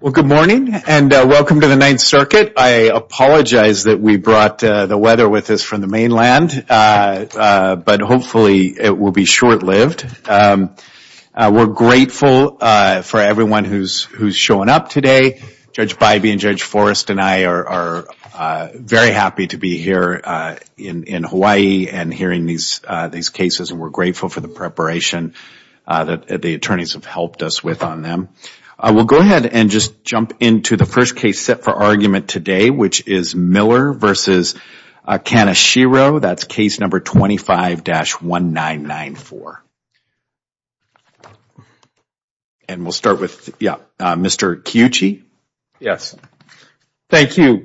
Well, good morning and welcome to the Ninth Circuit. I apologize that we brought the weather with us from the mainland, but hopefully it will be short-lived. We're grateful for everyone who's showing up today. Judge Bybee and Judge Forrest and I are very happy to be here in Hawaii and hearing these cases. We're grateful for the preparation that the attorneys have helped us with on them. We'll go ahead and just jump into the first case set for argument today, which is Miller v. Kaneshiro. That's case number 25-1994. We'll start with Mr. Kiyuchi. Kiyuchi Yes. Thank you.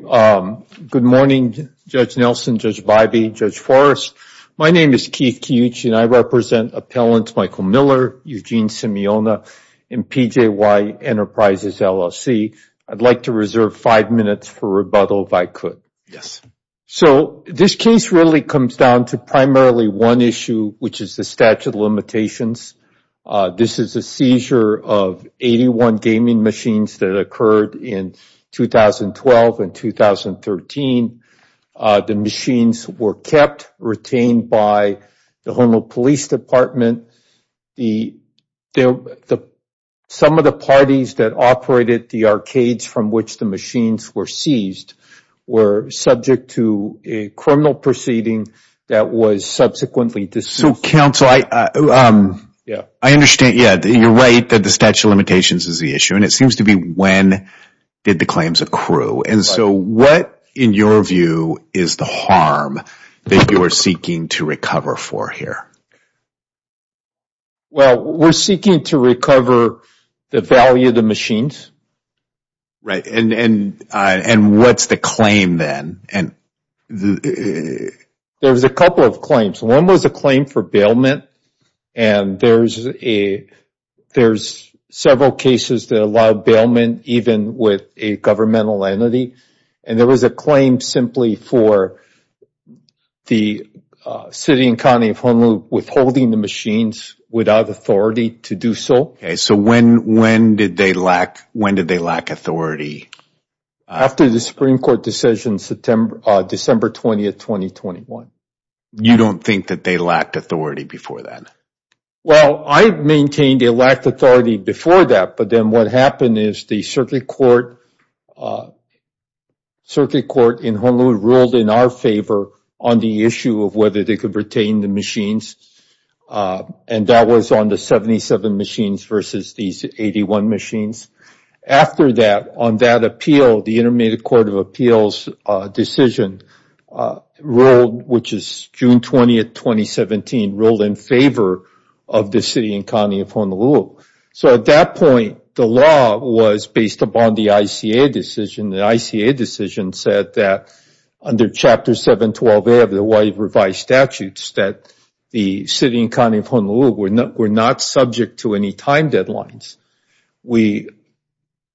Good morning, Judge Nelson, Judge Bybee, Judge Forrest. My name is Keith Kiyuchi, and I represent Appellants Michael Miller, Eugene Simeona, and PJY Enterprises LLC. I'd like to reserve five minutes for rebuttal, if I could. So, this case really comes down to primarily one issue, which is the statute of limitations. This is a seizure of 81 gaming machines that occurred in 2012 and 2013. The machines were kept, retained by the Honolulu Police Department. Some of the parties that operated the arcades from which the machines were seized were subject to a criminal proceeding that was subsequently So, counsel, I understand that you're right that the statute of limitations is the issue, and it seems to be when did the claims accrue. So, what, in your view, is the harm that you are seeking to recover for here? Well, we're seeking to recover the value of the machines. Right. And what's the claim then? There's a couple of claims. One was a claim for bailment, and there's several cases that allow bailment even with a governmental entity. And there was a claim simply for the city and county of Honolulu withholding the machines without authority to do so. Okay. So, when did they lack authority? After the Supreme Court decision, December 20th, 2021. You don't think that they lacked authority before that? Well, I've maintained they lacked authority before that, but then what happened is the Circuit Court in Honolulu ruled in our favor on the issue of whether they could retain the machines, and that was on the 77 machines versus these 81 machines. After that, on that appeal, the Intermediate Court of Appeals decision, which is June 20th, 2017, ruled in favor of the city and county of Honolulu. So, at that point, the law was based upon the ICA decision. The ICA decision said that under Chapter 712A of the Hawaii Revised Statutes that the city and county of Honolulu were not subject to any time deadlines. We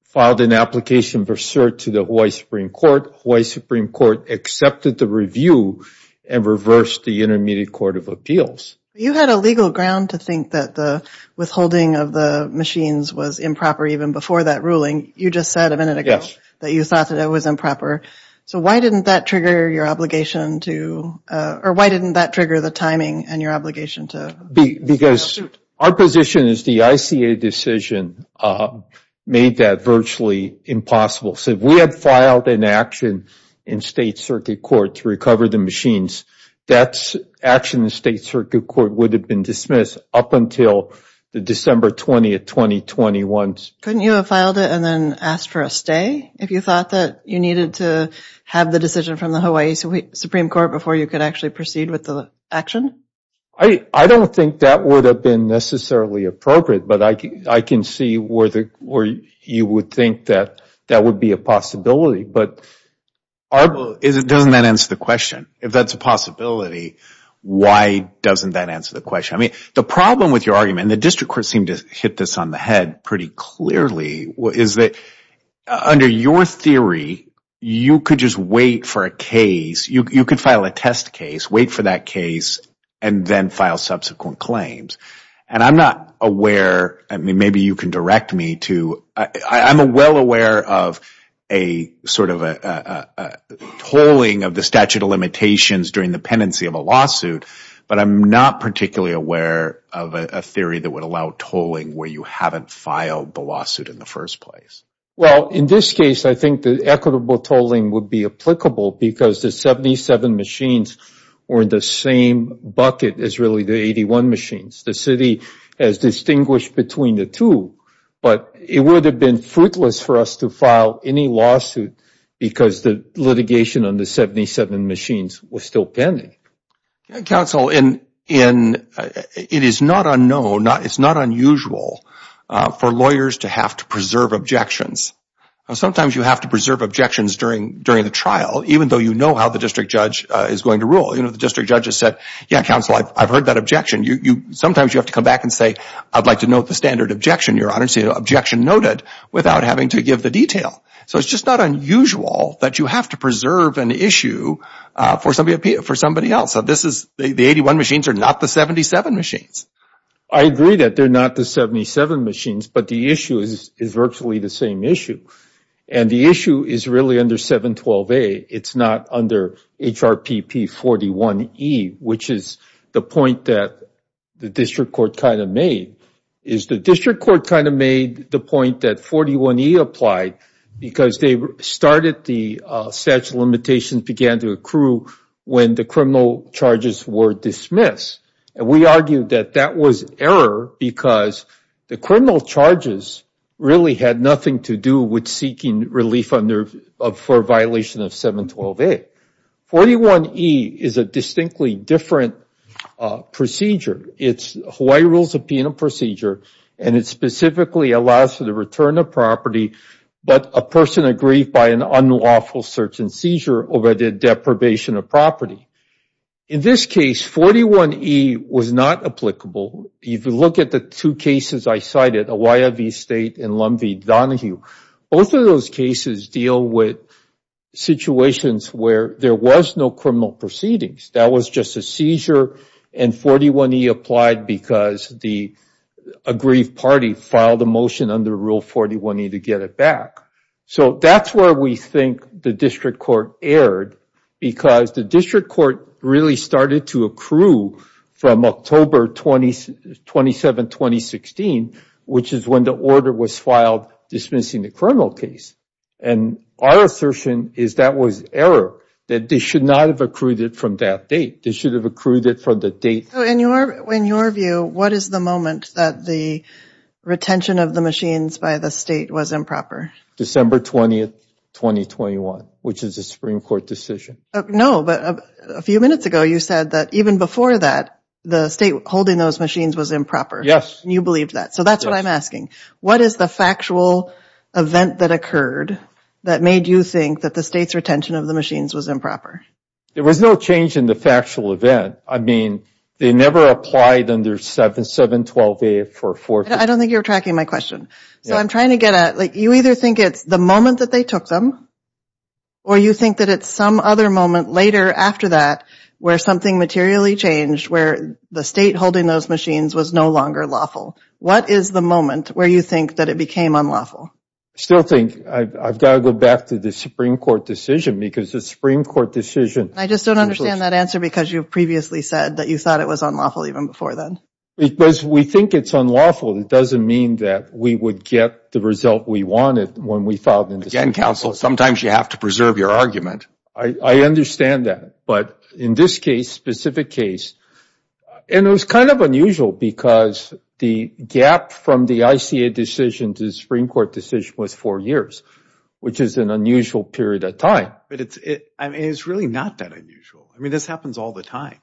filed an application for cert to the Hawaii Supreme Court. Hawaii Supreme Court accepted the review and reversed the Intermediate Court of Appeals. You had a legal ground to think that the withholding of the machines was improper even before that ruling. You just said a minute ago that you thought that it was improper. So, why didn't that trigger your obligation to, or why didn't that trigger the timing and your obligation to? Because our position is the ICA decision made that virtually impossible. So, if we had filed an action in State Circuit Court to recover the machines, that action in State Circuit Court would have been dismissed up until the December 20th, 2021. Couldn't you have filed it and then asked for a stay if you thought that you needed to have the decision from the Hawaii Supreme Court before you could actually proceed with the action? I don't think that would have been necessarily appropriate, but I can see where you would think that that would be a possibility. But doesn't that answer the question? If that's a possibility, why doesn't that answer the question? I mean, the problem with your argument, and the district court seemed to hit this on the head pretty clearly, is that under your theory, you could just wait for a case, you could file a test case, wait for that case, and then file subsequent claims. And I'm not aware, maybe you can direct me to, I'm well aware of a sort of a tolling of the statute of limitations during the pendency of a lawsuit, but I'm not particularly aware of a theory that would allow tolling where you haven't filed the lawsuit in the first place. Well, in this case, I think the equitable tolling would be applicable because the 77 machines were in the same bucket as really the 81 machines. The city has distinguished between the two, but it would have been fruitless for us to file any lawsuit because the litigation on the 77 machines was still pending. Council, it is not unknown, it's not unusual for lawyers to have to preserve objections. Sometimes you have to preserve objections during the trial, even though you know how the district judge is going to rule. You know, the district judge has said, yeah, council, I've heard that objection. Sometimes you have to come back and say, I'd like to note the standard objection, your honor, and say, objection noted, without having to give the detail. So it's just not unusual that you have to preserve an issue for somebody else. The 81 machines are not the 77 machines. I agree that they're not the 77 machines, but the issue is virtually the same issue. And the issue is really under 712A. It's not under HRPP 41E, which is the point that the district court kind of made, is the district court kind of made the point that 41E applied because they started the statute of limitations began to accrue when the criminal charges were dismissed. And we argued that that was error because the criminal charges really had nothing to do with seeking relief for violation of 712A. 41E is a distinctly different procedure. It's Hawaii Rules of Penal Procedure, and it specifically allows for the return of property, but a person aggrieved by an unlawful search and seizure over the deprivation of property. In this case, 41E was not applicable. If you look at the two cases I cited, Hawaii v. State and Lum v. Donahue, both of those cases deal with situations where there was no criminal proceedings. That was just a seizure, and 41E applied because the aggrieved party filed a motion under Rule 41E to get it back. So that's where we think the district court erred, because the district court really started to accrue from October 27, 2016, which is when the order was filed dismissing the criminal case. And our assertion is that was error, that they should not have accrued it from that date. They should have accrued it from the date. So in your view, what is the moment that the retention of the machines by the state was improper? December 20, 2021, which is a Supreme Court decision. No, but a few minutes ago, you said that even before that, the state holding those machines was improper. Yes. You believed that. So that's what I'm asking. What is the factual event that occurred that made you think that the state's retention of the machines was improper? There was no change in the factual event. I mean, they never applied under 7-7-12-8-4-4. I don't think you're tracking my question. So I'm trying to get at, like, you either think it's the moment that they took them, or you think that it's some other moment later after that, where something materially changed, where the state holding those machines was no longer lawful. What is the moment where you think that it became unlawful? Still think I've got to go back to the Supreme Court decision because the Supreme Court decision. I just don't understand that answer because you previously said that you thought it was unlawful even before then. Because we think it's unlawful, it doesn't mean that we would get the result we wanted when we filed. Again, counsel, sometimes you have to preserve your argument. I understand that. But in this case, specific case, and it was kind of unusual because the gap from the ICA decision to the Supreme Court decision was four years, which is an unusual period of time. But it's, I mean, it's really not that unusual. I mean, this happens all the time,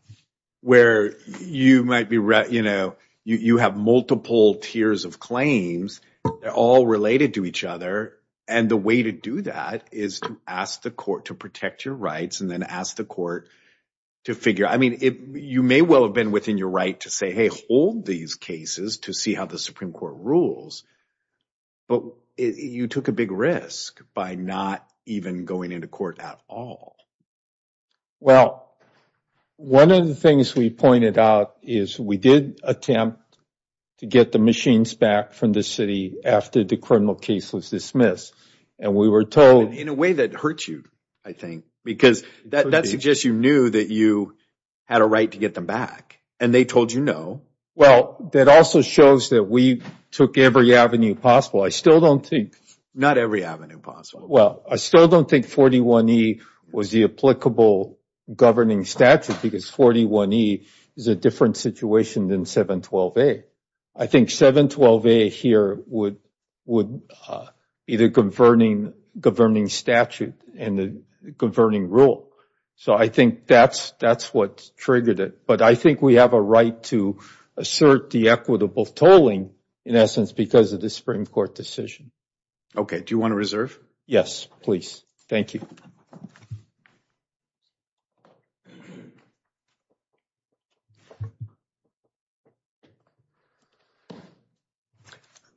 where you might be, you know, you have multiple tiers of claims. They're all related to each other. And the way to do that is to ask the court to protect your rights and then ask the court to figure. I mean, you may well have been your right to say, hey, hold these cases to see how the Supreme Court rules. But you took a big risk by not even going into court at all. Well, one of the things we pointed out is we did attempt to get the machines back from the city after the criminal case was dismissed. And we were told- In a way that hurts you, I think, because that suggests you knew that you had a right to get them back, and they told you no. Well, that also shows that we took every avenue possible. I still don't think- Not every avenue possible. Well, I still don't think 41E was the applicable governing statute because 41E is a different situation than 712A. I think 712A here would be the governing statute and the governing rule. So I think that's what triggered it. But I think we have a right to assert the equitable tolling, in essence, because of the Supreme Court decision. Okay. Do you want to reserve? Yes, please. Thank you.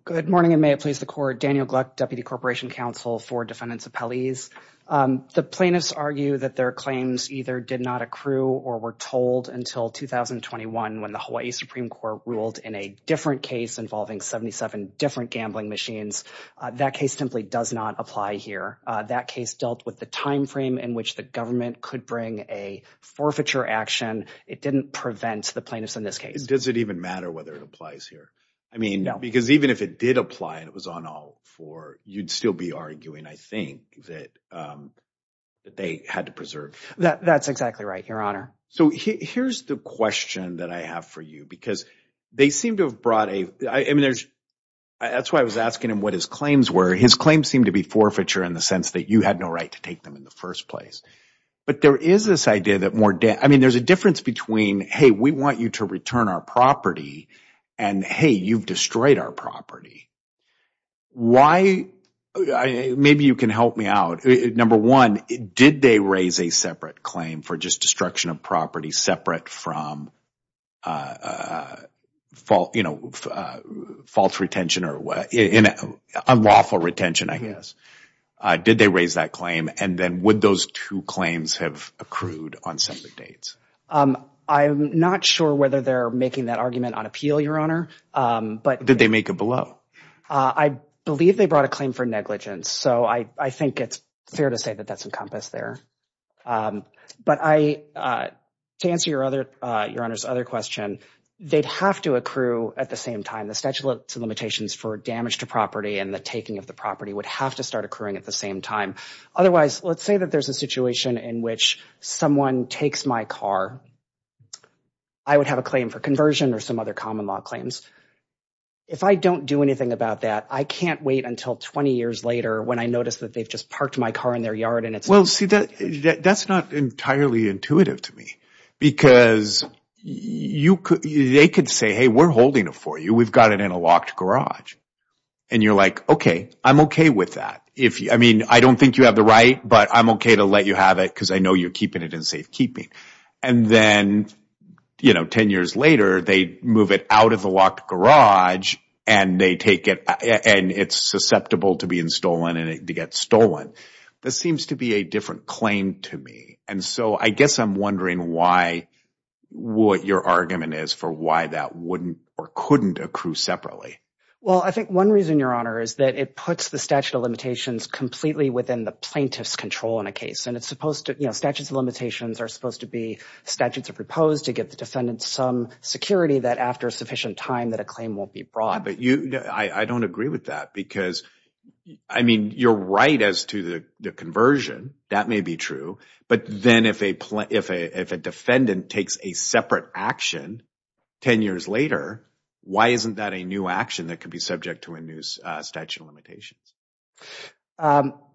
Good morning, and may it please the court. Daniel Gluck, Deputy Corporation Counsel for Defendants Appellees. The plaintiffs argue that their claims either did not accrue or were told until 2021 when the Hawaii Supreme Court ruled in a different case involving 77 different gambling machines. That case simply does not apply here. That case dealt with the time frame in which the government could bring a forfeiture action. It didn't prevent the plaintiffs in this case. Does it even matter whether it applies here? I mean- No. If it did apply and it was on all four, you'd still be arguing, I think, that they had to preserve. That's exactly right, Your Honor. So here's the question that I have for you because they seem to have brought a- I mean, there's- that's why I was asking him what his claims were. His claims seem to be forfeiture in the sense that you had no right to take them in the first place. But there is this idea that more- I mean, there's a difference between, hey, we want you to return our property, and, hey, you've destroyed our property. Why- maybe you can help me out. Number one, did they raise a separate claim for just destruction of property separate from false retention or unlawful retention, I guess? Did they raise that claim? And then would those two claims have accrued on separate dates? I'm not sure whether they're making that on appeal, Your Honor. But- Did they make it below? I believe they brought a claim for negligence. So I think it's fair to say that that's encompassed there. But I- to answer Your Honor's other question, they'd have to accrue at the same time. The statute of limitations for damage to property and the taking of the property would have to start occurring at the same time. Otherwise, let's say that there's a situation in which someone takes my car. I would have a claim for conversion or some other common law claims. If I don't do anything about that, I can't wait until 20 years later when I notice that they've just parked my car in their yard and it's- Well, see, that's not entirely intuitive to me. Because they could say, hey, we're holding it for you. We've got it in a locked garage. And you're like, okay, I'm okay with that. I mean, I don't think you have the right, but I'm okay to let you have it because I know you're keeping it in safekeeping. And then 10 years later, they move it out of the locked garage and they take it and it's susceptible to being stolen and to get stolen. This seems to be a different claim to me. And so I guess I'm wondering why- what your argument is for why that wouldn't or couldn't accrue separately. Well, I think one reason, Your Honor, is that it puts the statute of limitations completely within the plaintiff's control in a case. And it's supposed to- statutes of limitations are supposed to be statutes of repose to give the defendant some security that after sufficient time that a claim won't be brought. Yeah, but I don't agree with that because, I mean, you're right as to the conversion. That may be true. But then if a defendant takes a separate action 10 years later, why isn't that a new action that could be subject to a new statute of limitations? Well,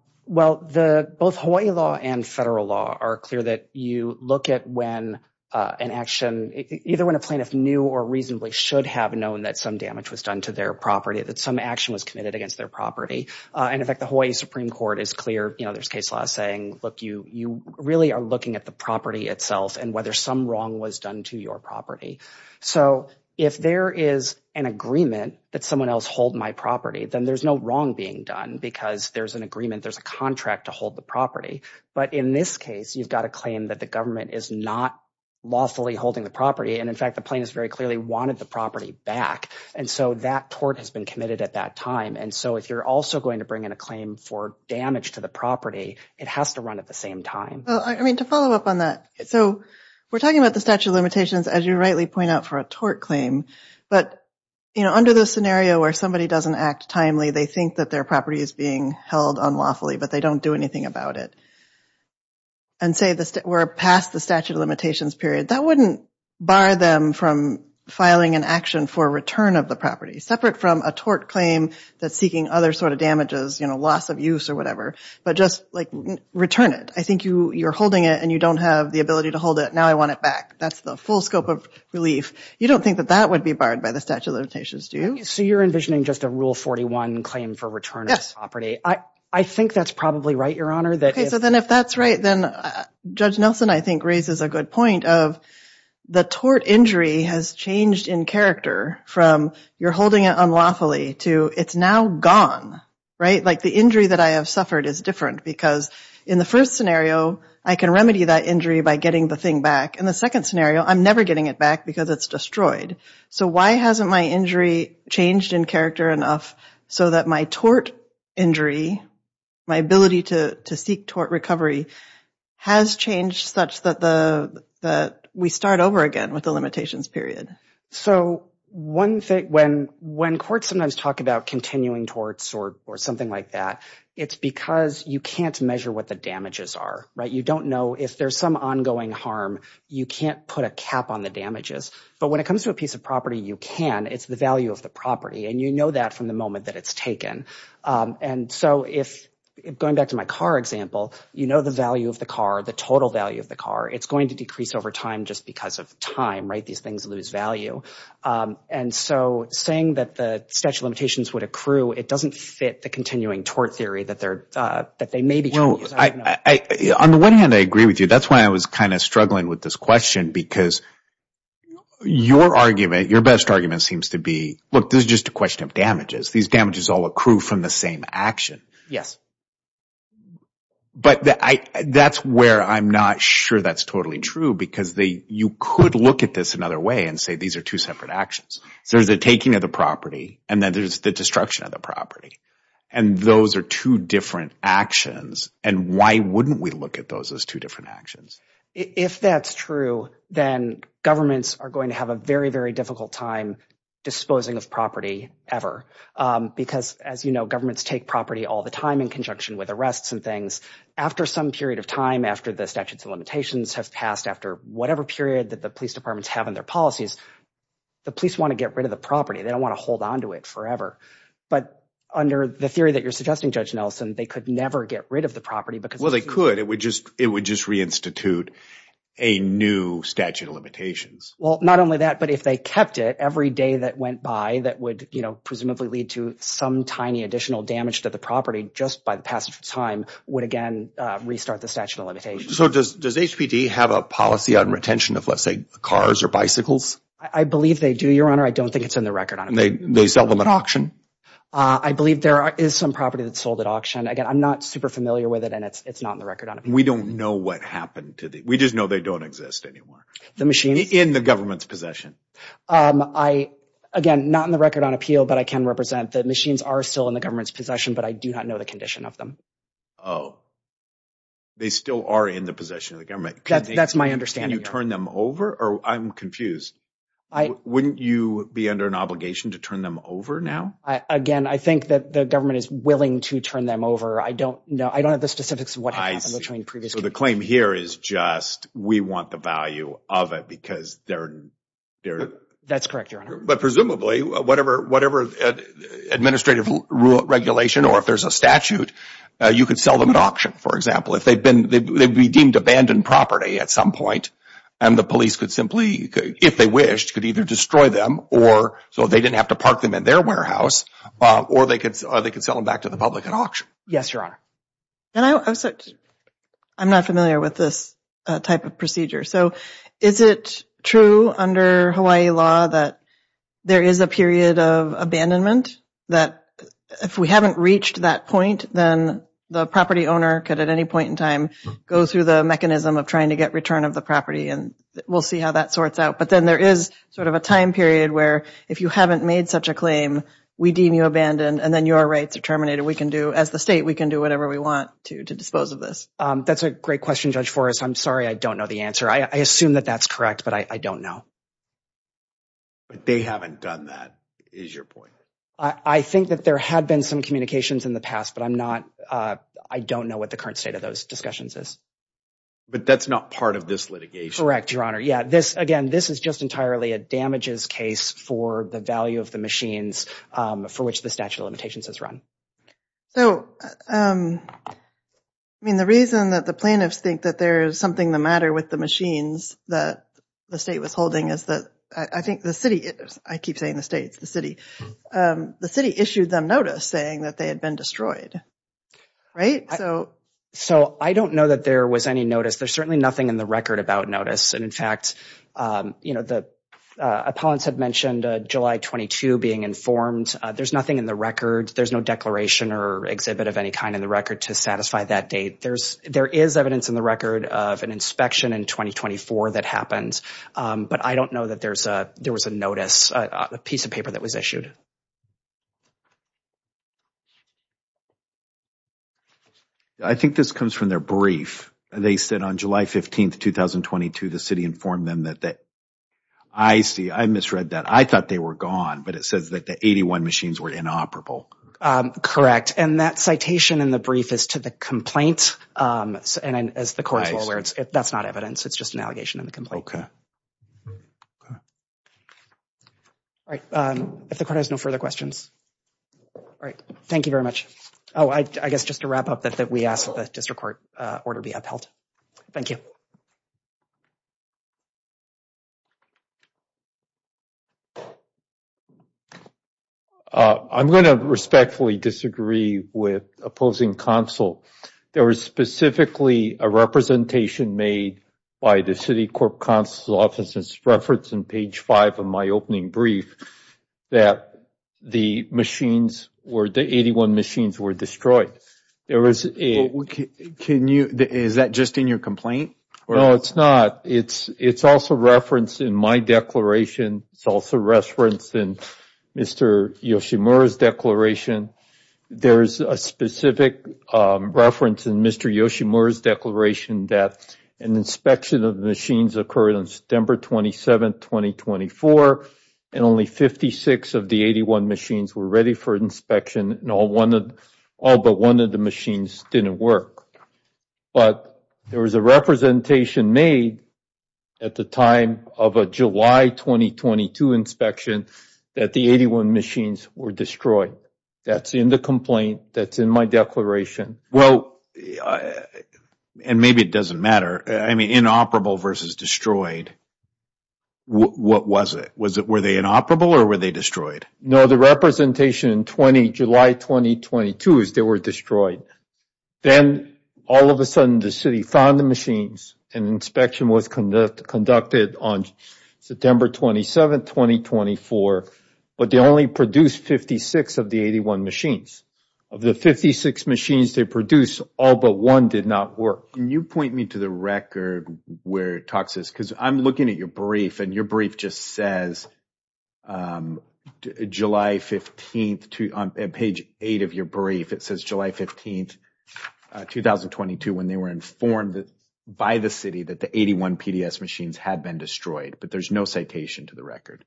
both Hawaii law and federal law are clear that you look at when an action- either when a plaintiff knew or reasonably should have known that some damage was done to their property, that some action was committed against their property. In effect, the Hawaii Supreme Court is clear. You know, there's case law saying, look, you really are looking at the property itself and whether some wrong was done to your property. So if there is an agreement that someone else hold my property, then there's no wrong being done because there's an agreement, there's a contract to hold the property. But in this case, you've got a claim that the government is not lawfully holding the property. And in fact, the plaintiff very clearly wanted the property back. And so that tort has been committed at that time. And so if you're also going to bring in a claim for damage to the property, it has to run at the same time. I mean, to follow up on that. So we're talking about the statute of limitations, as you rightly point out, for a tort claim. But, you know, under the scenario where somebody doesn't act timely, they think that their property is being held unlawfully, but they don't do anything about it. And say we're past the statute of limitations period, that wouldn't bar them from filing an action for return of the property, separate from a tort claim that's seeking other sort of damages, you know, loss of use or whatever. But just, like, return it. I think you're holding it and you don't have the ability to hold it. Now I want it back. That's the full scope of relief. You don't think that that would be barred by the statute of limitations, do you? So you're envisioning just a Rule 41 claim for return of the property. Yes. I think that's probably right, Your Honor. OK. So then if that's right, then Judge Nelson, I think, raises a good point of the tort injury has changed in character from you're holding it unlawfully to it's now gone. Right? Like the injury that I have suffered is different because in the first scenario, I can remedy that injury by getting the thing back. In the second scenario, I'm never getting it back because it's destroyed. So why hasn't my injury changed in character enough so that my tort injury, my ability to seek tort recovery, has changed such that we start over again with the limitations period? So one thing, when courts sometimes talk about continuing torts or something like that, it's because you can't measure what the damages are. Right? You don't know if there's some ongoing harm. You can't put a cap on the damages. But when it comes to a piece of property, you can. It's the value of the property. And you know that from the moment that it's taken. And so if going back to my car example, you know the value of the car, the total value of the car, it's going to decrease over time just because of time, right? These things lose value. And so saying that the statute of limitations would accrue, it doesn't fit the continuing tort theory that they may be changing. On the one hand, I agree with you. That's why I was kind of struggling with this question because your argument, your best argument seems to be, look, this is just a question of damages. These damages all accrue from the same action. Yes. But that's where I'm not sure that's totally true because you could look at this another way and say these are two separate actions. There's the taking of the property and then there's the destruction of the property. And those are two different actions. And why wouldn't we look at those as two different actions? If that's true, then governments are going to have a very, very difficult time disposing of property ever. Because as you know, governments take property all the time in conjunction with arrests and things. After some period of time, after the statutes of limitations have passed, after whatever period that the police departments have in their policies, the police want to get rid of the property. They don't want to hold on to it forever. But under the theory that you're suggesting, Judge Nelson, they could never get rid of the property. Well, they could. It would just reinstitute a new statute of limitations. Well, not only that, but if they kept it, every day that went by that would presumably lead to some tiny additional damage to the property just by the passage of time would again restart the statute of limitations. So does HPD have a policy on retention of, let's say, cars or bicycles? I believe they do, Your Honor. I don't think it's in the record on it. They sell them at auction? I believe there is some property that's sold at auction. Again, I'm not super familiar with it and it's not in the record on it. We don't know what happened to the... We just know they don't exist anymore. The machines? In the government's possession. Again, not in the record on appeal, but I can represent the machines are still in the government's possession, but I do not know the condition of them. Oh, they still are in the government's possession. I'm confused. Wouldn't you be under an obligation to turn them over now? Again, I think that the government is willing to turn them over. I don't know. I don't have the specifics of what happened between previous cases. So the claim here is just we want the value of it because they're... That's correct, Your Honor. But presumably, whatever administrative regulation or if there's a statute, you could sell them at auction, for example. If they'd been... They'd be deemed abandoned property at some point and the police could simply, if they wished, could either destroy them or... So they didn't have to park them in their warehouse or they could sell them back to the public at auction. Yes, Your Honor. I'm not familiar with this type of procedure. So is it true under Hawaii law that there is a period of abandonment that if we haven't reached that point, then the property owner could at any point in time go through the mechanism of trying to get return of the property and we'll see how that sorts out. But then there is sort of a time period where if you haven't made such a claim, we deem you abandoned and then you are right to terminate it. We can do, as the state, we can do whatever we want to dispose of this. That's a great question, Judge Forrest. I'm sorry. I don't know the answer. I assume that that's correct, but I don't know. But they haven't done that, is your point? I think that there had been some communications in the past, but I'm not, I don't know what the current state of those discussions is. But that's not part of this litigation. Correct, Your Honor. Yeah, this, again, this is just entirely a damages case for the value of the machines for which the statute of limitations has run. So, I mean, the reason that the plaintiffs think that there is something the matter with the machines that the state was holding is that I think the city, I keep saying the states, the city, the city issued them notice saying that they had been destroyed, right? So, so I don't know that there was any notice. There's certainly nothing in the record about notice. And in fact, you know, the appellants had mentioned July 22 being informed. There's nothing in the record. There's no declaration or exhibit of any kind in the record to satisfy that date. There's, there is evidence in the record of an inspection in 2024 that happens. But I don't know that there was a notice, a piece of paper that was issued. I think this comes from their brief. They said on July 15, 2022, the city informed them that, I see, I misread that. I thought they were gone, but it says that the 81 machines were inoperable. Correct. And that citation in the brief is to the complaint. And as the court is aware, that's not evidence. It's just an allegation in the complaint. All right. If the court has no further questions. All right. Thank you very much. Oh, I guess just to wrap up that we asked that the district court order be upheld. Thank you. I'm going to respectfully disagree with opposing counsel. There was specifically a representation made by the city court counsel's office. It's referenced in page five of my opening brief that the machines were, the 81 machines were destroyed. There was a, can you, is that just in your complaint? No, it's not. It's, it's also referenced in my declaration. It's also referenced in Mr. Yoshimura's declaration. There's a specific reference in Mr. Yoshimura's declaration that an inspection of the machines occurred on September 27th, 2024, and only 56 of the 81 machines were ready for inspection and all but one of the machines didn't work. But there was a representation made at the time of a July 2022 inspection that the 81 machines were destroyed. That's in the complaint. That's in my declaration. Well, and maybe it doesn't matter. I mean, inoperable versus destroyed. What was it? Was it, were they inoperable or were they destroyed? No, the representation in 20, July 2022 is they were destroyed. Then all of a sudden the city found the machines and inspection was conducted on September 27th, 2024, but they only produced 56 of the 81 machines. Of the 56 machines they produced, all but one did not work. Can you point me to the record where it talks, because I'm looking at your brief and your brief just says July 15th, on page eight of your brief, it says July 15th, 2022, when they were informed by the city that the 81 PDS machines had been destroyed, but there's no citation to the record.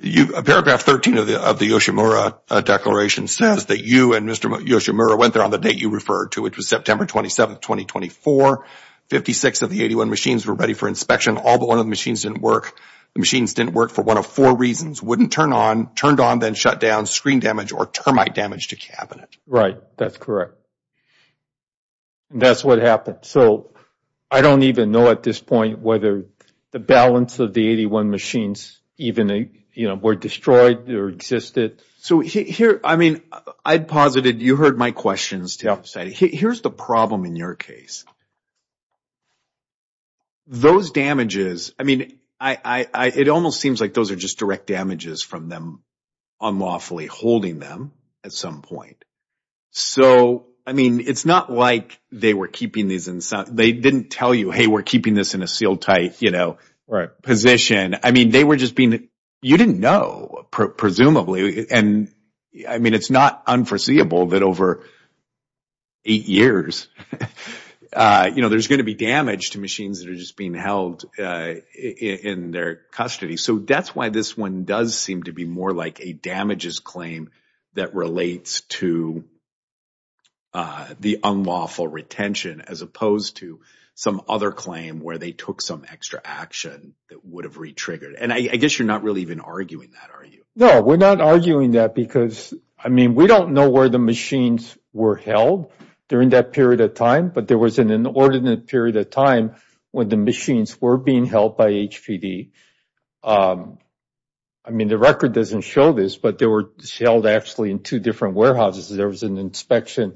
You, paragraph 13 of the Yoshimura declaration says that you and Mr. Yoshimura went there on the date you referred to, which was September 27th, 2024. 56 of the 81 machines were ready for inspection. All but one of the machines didn't work. The machines didn't work for one of four reasons. Wouldn't turn on, turned on, then shut down, screen damage or termite damage to cabinet. Right, that's correct. That's what happened. So I don't even know at this point whether the balance of the 81 machines even, you know, were destroyed or existed. So here, I mean, I'd posited, you heard my questions to help say, here's the problem in your case. Those damages, I mean, I, I, I, it almost seems like those are just direct damages from them unlawfully holding them at some point. So, I mean, it's not like they were keeping these they didn't tell you, hey, we're keeping this in a seal tight, you know, position. I mean, they were just being, you didn't know, presumably. And I mean, it's not unforeseeable that over eight years, you know, there's going to be damage to machines that are just being held in their custody. So that's why this one does seem to be more like a damages claim that relates to the unlawful retention as opposed to some other claim where they took some extra action that would have re-triggered. And I guess you're not really even arguing that, are you? No, we're not arguing that because, I mean, we don't know where the machines were held during that period of time, but there was an inordinate period of time when the machines were being held by HPD. I mean, the record doesn't show this, but they were held actually in two different warehouses. There was an inspection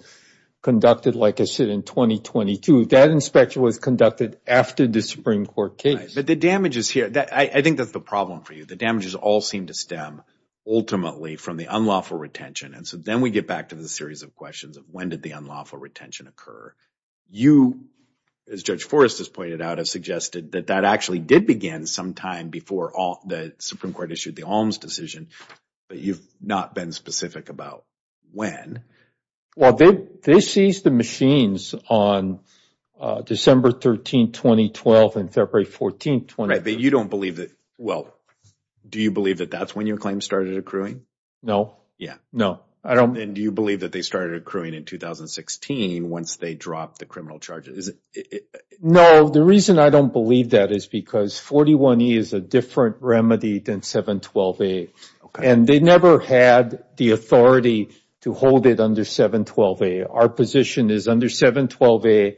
conducted, like I said, in 2022. That inspection was conducted after the Supreme Court case. But the damages here, I think that's the problem for you. The damages all seem to stem ultimately from the unlawful retention. And so then we get back to the series of questions of when did the unlawful retention occur? You, as Judge Forrest has pointed out, have suggested that that actually did begin sometime before the Supreme Court issued the ALMS decision, but you've not been specific about when. Well, they seized the machines on December 13, 2012 and February 14, 2012. Right, but you don't believe that. Well, do you believe that that's when your claim started accruing? No. Yeah. No. And do you believe that they started accruing in 2016 once they dropped the criminal charges? No, the reason I don't believe that is because 41E is a different remedy than 712A. And they never had the authority to hold it under 712A. Our position is under 712A,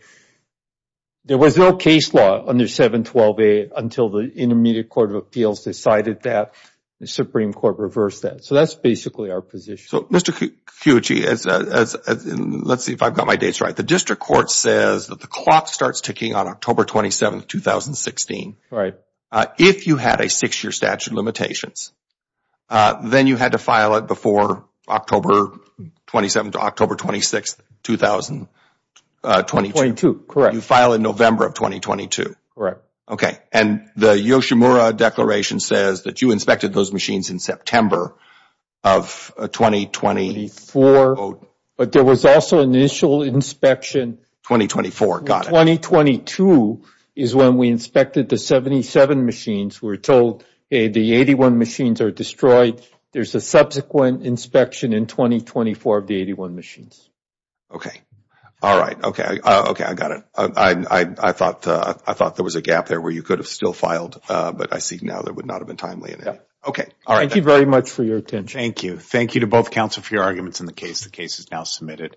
there was no case law under 712A until the Intermediate Court of Appeals decided that, the Supreme Court reversed that. So that's basically our position. So, Mr. Kuji, let's see if I've got my dates right. The District Court says that the clock starts ticking on October 27, 2016. Right. If you had a six-year statute of limitations, then you had to file it before October 27 to October 26, 2022. Correct. You file in November of 2022. Correct. Okay. And the Yoshimura Declaration says that you inspected those machines in September of 2024. But there was also initial inspection. 2024, got it. 2022 is when we inspected the 77 machines. We're told the 81 machines are destroyed. There's a subsequent inspection in 2024 of the 81 machines. Okay. All right. Okay. I got it. I thought there was a gap there where you could have still filed, but I see now that would not have been timely. Okay. All right. Thank you very much for your attention. Thank you. Thank you to both counsel for your arguments in the case. The case is now submitted.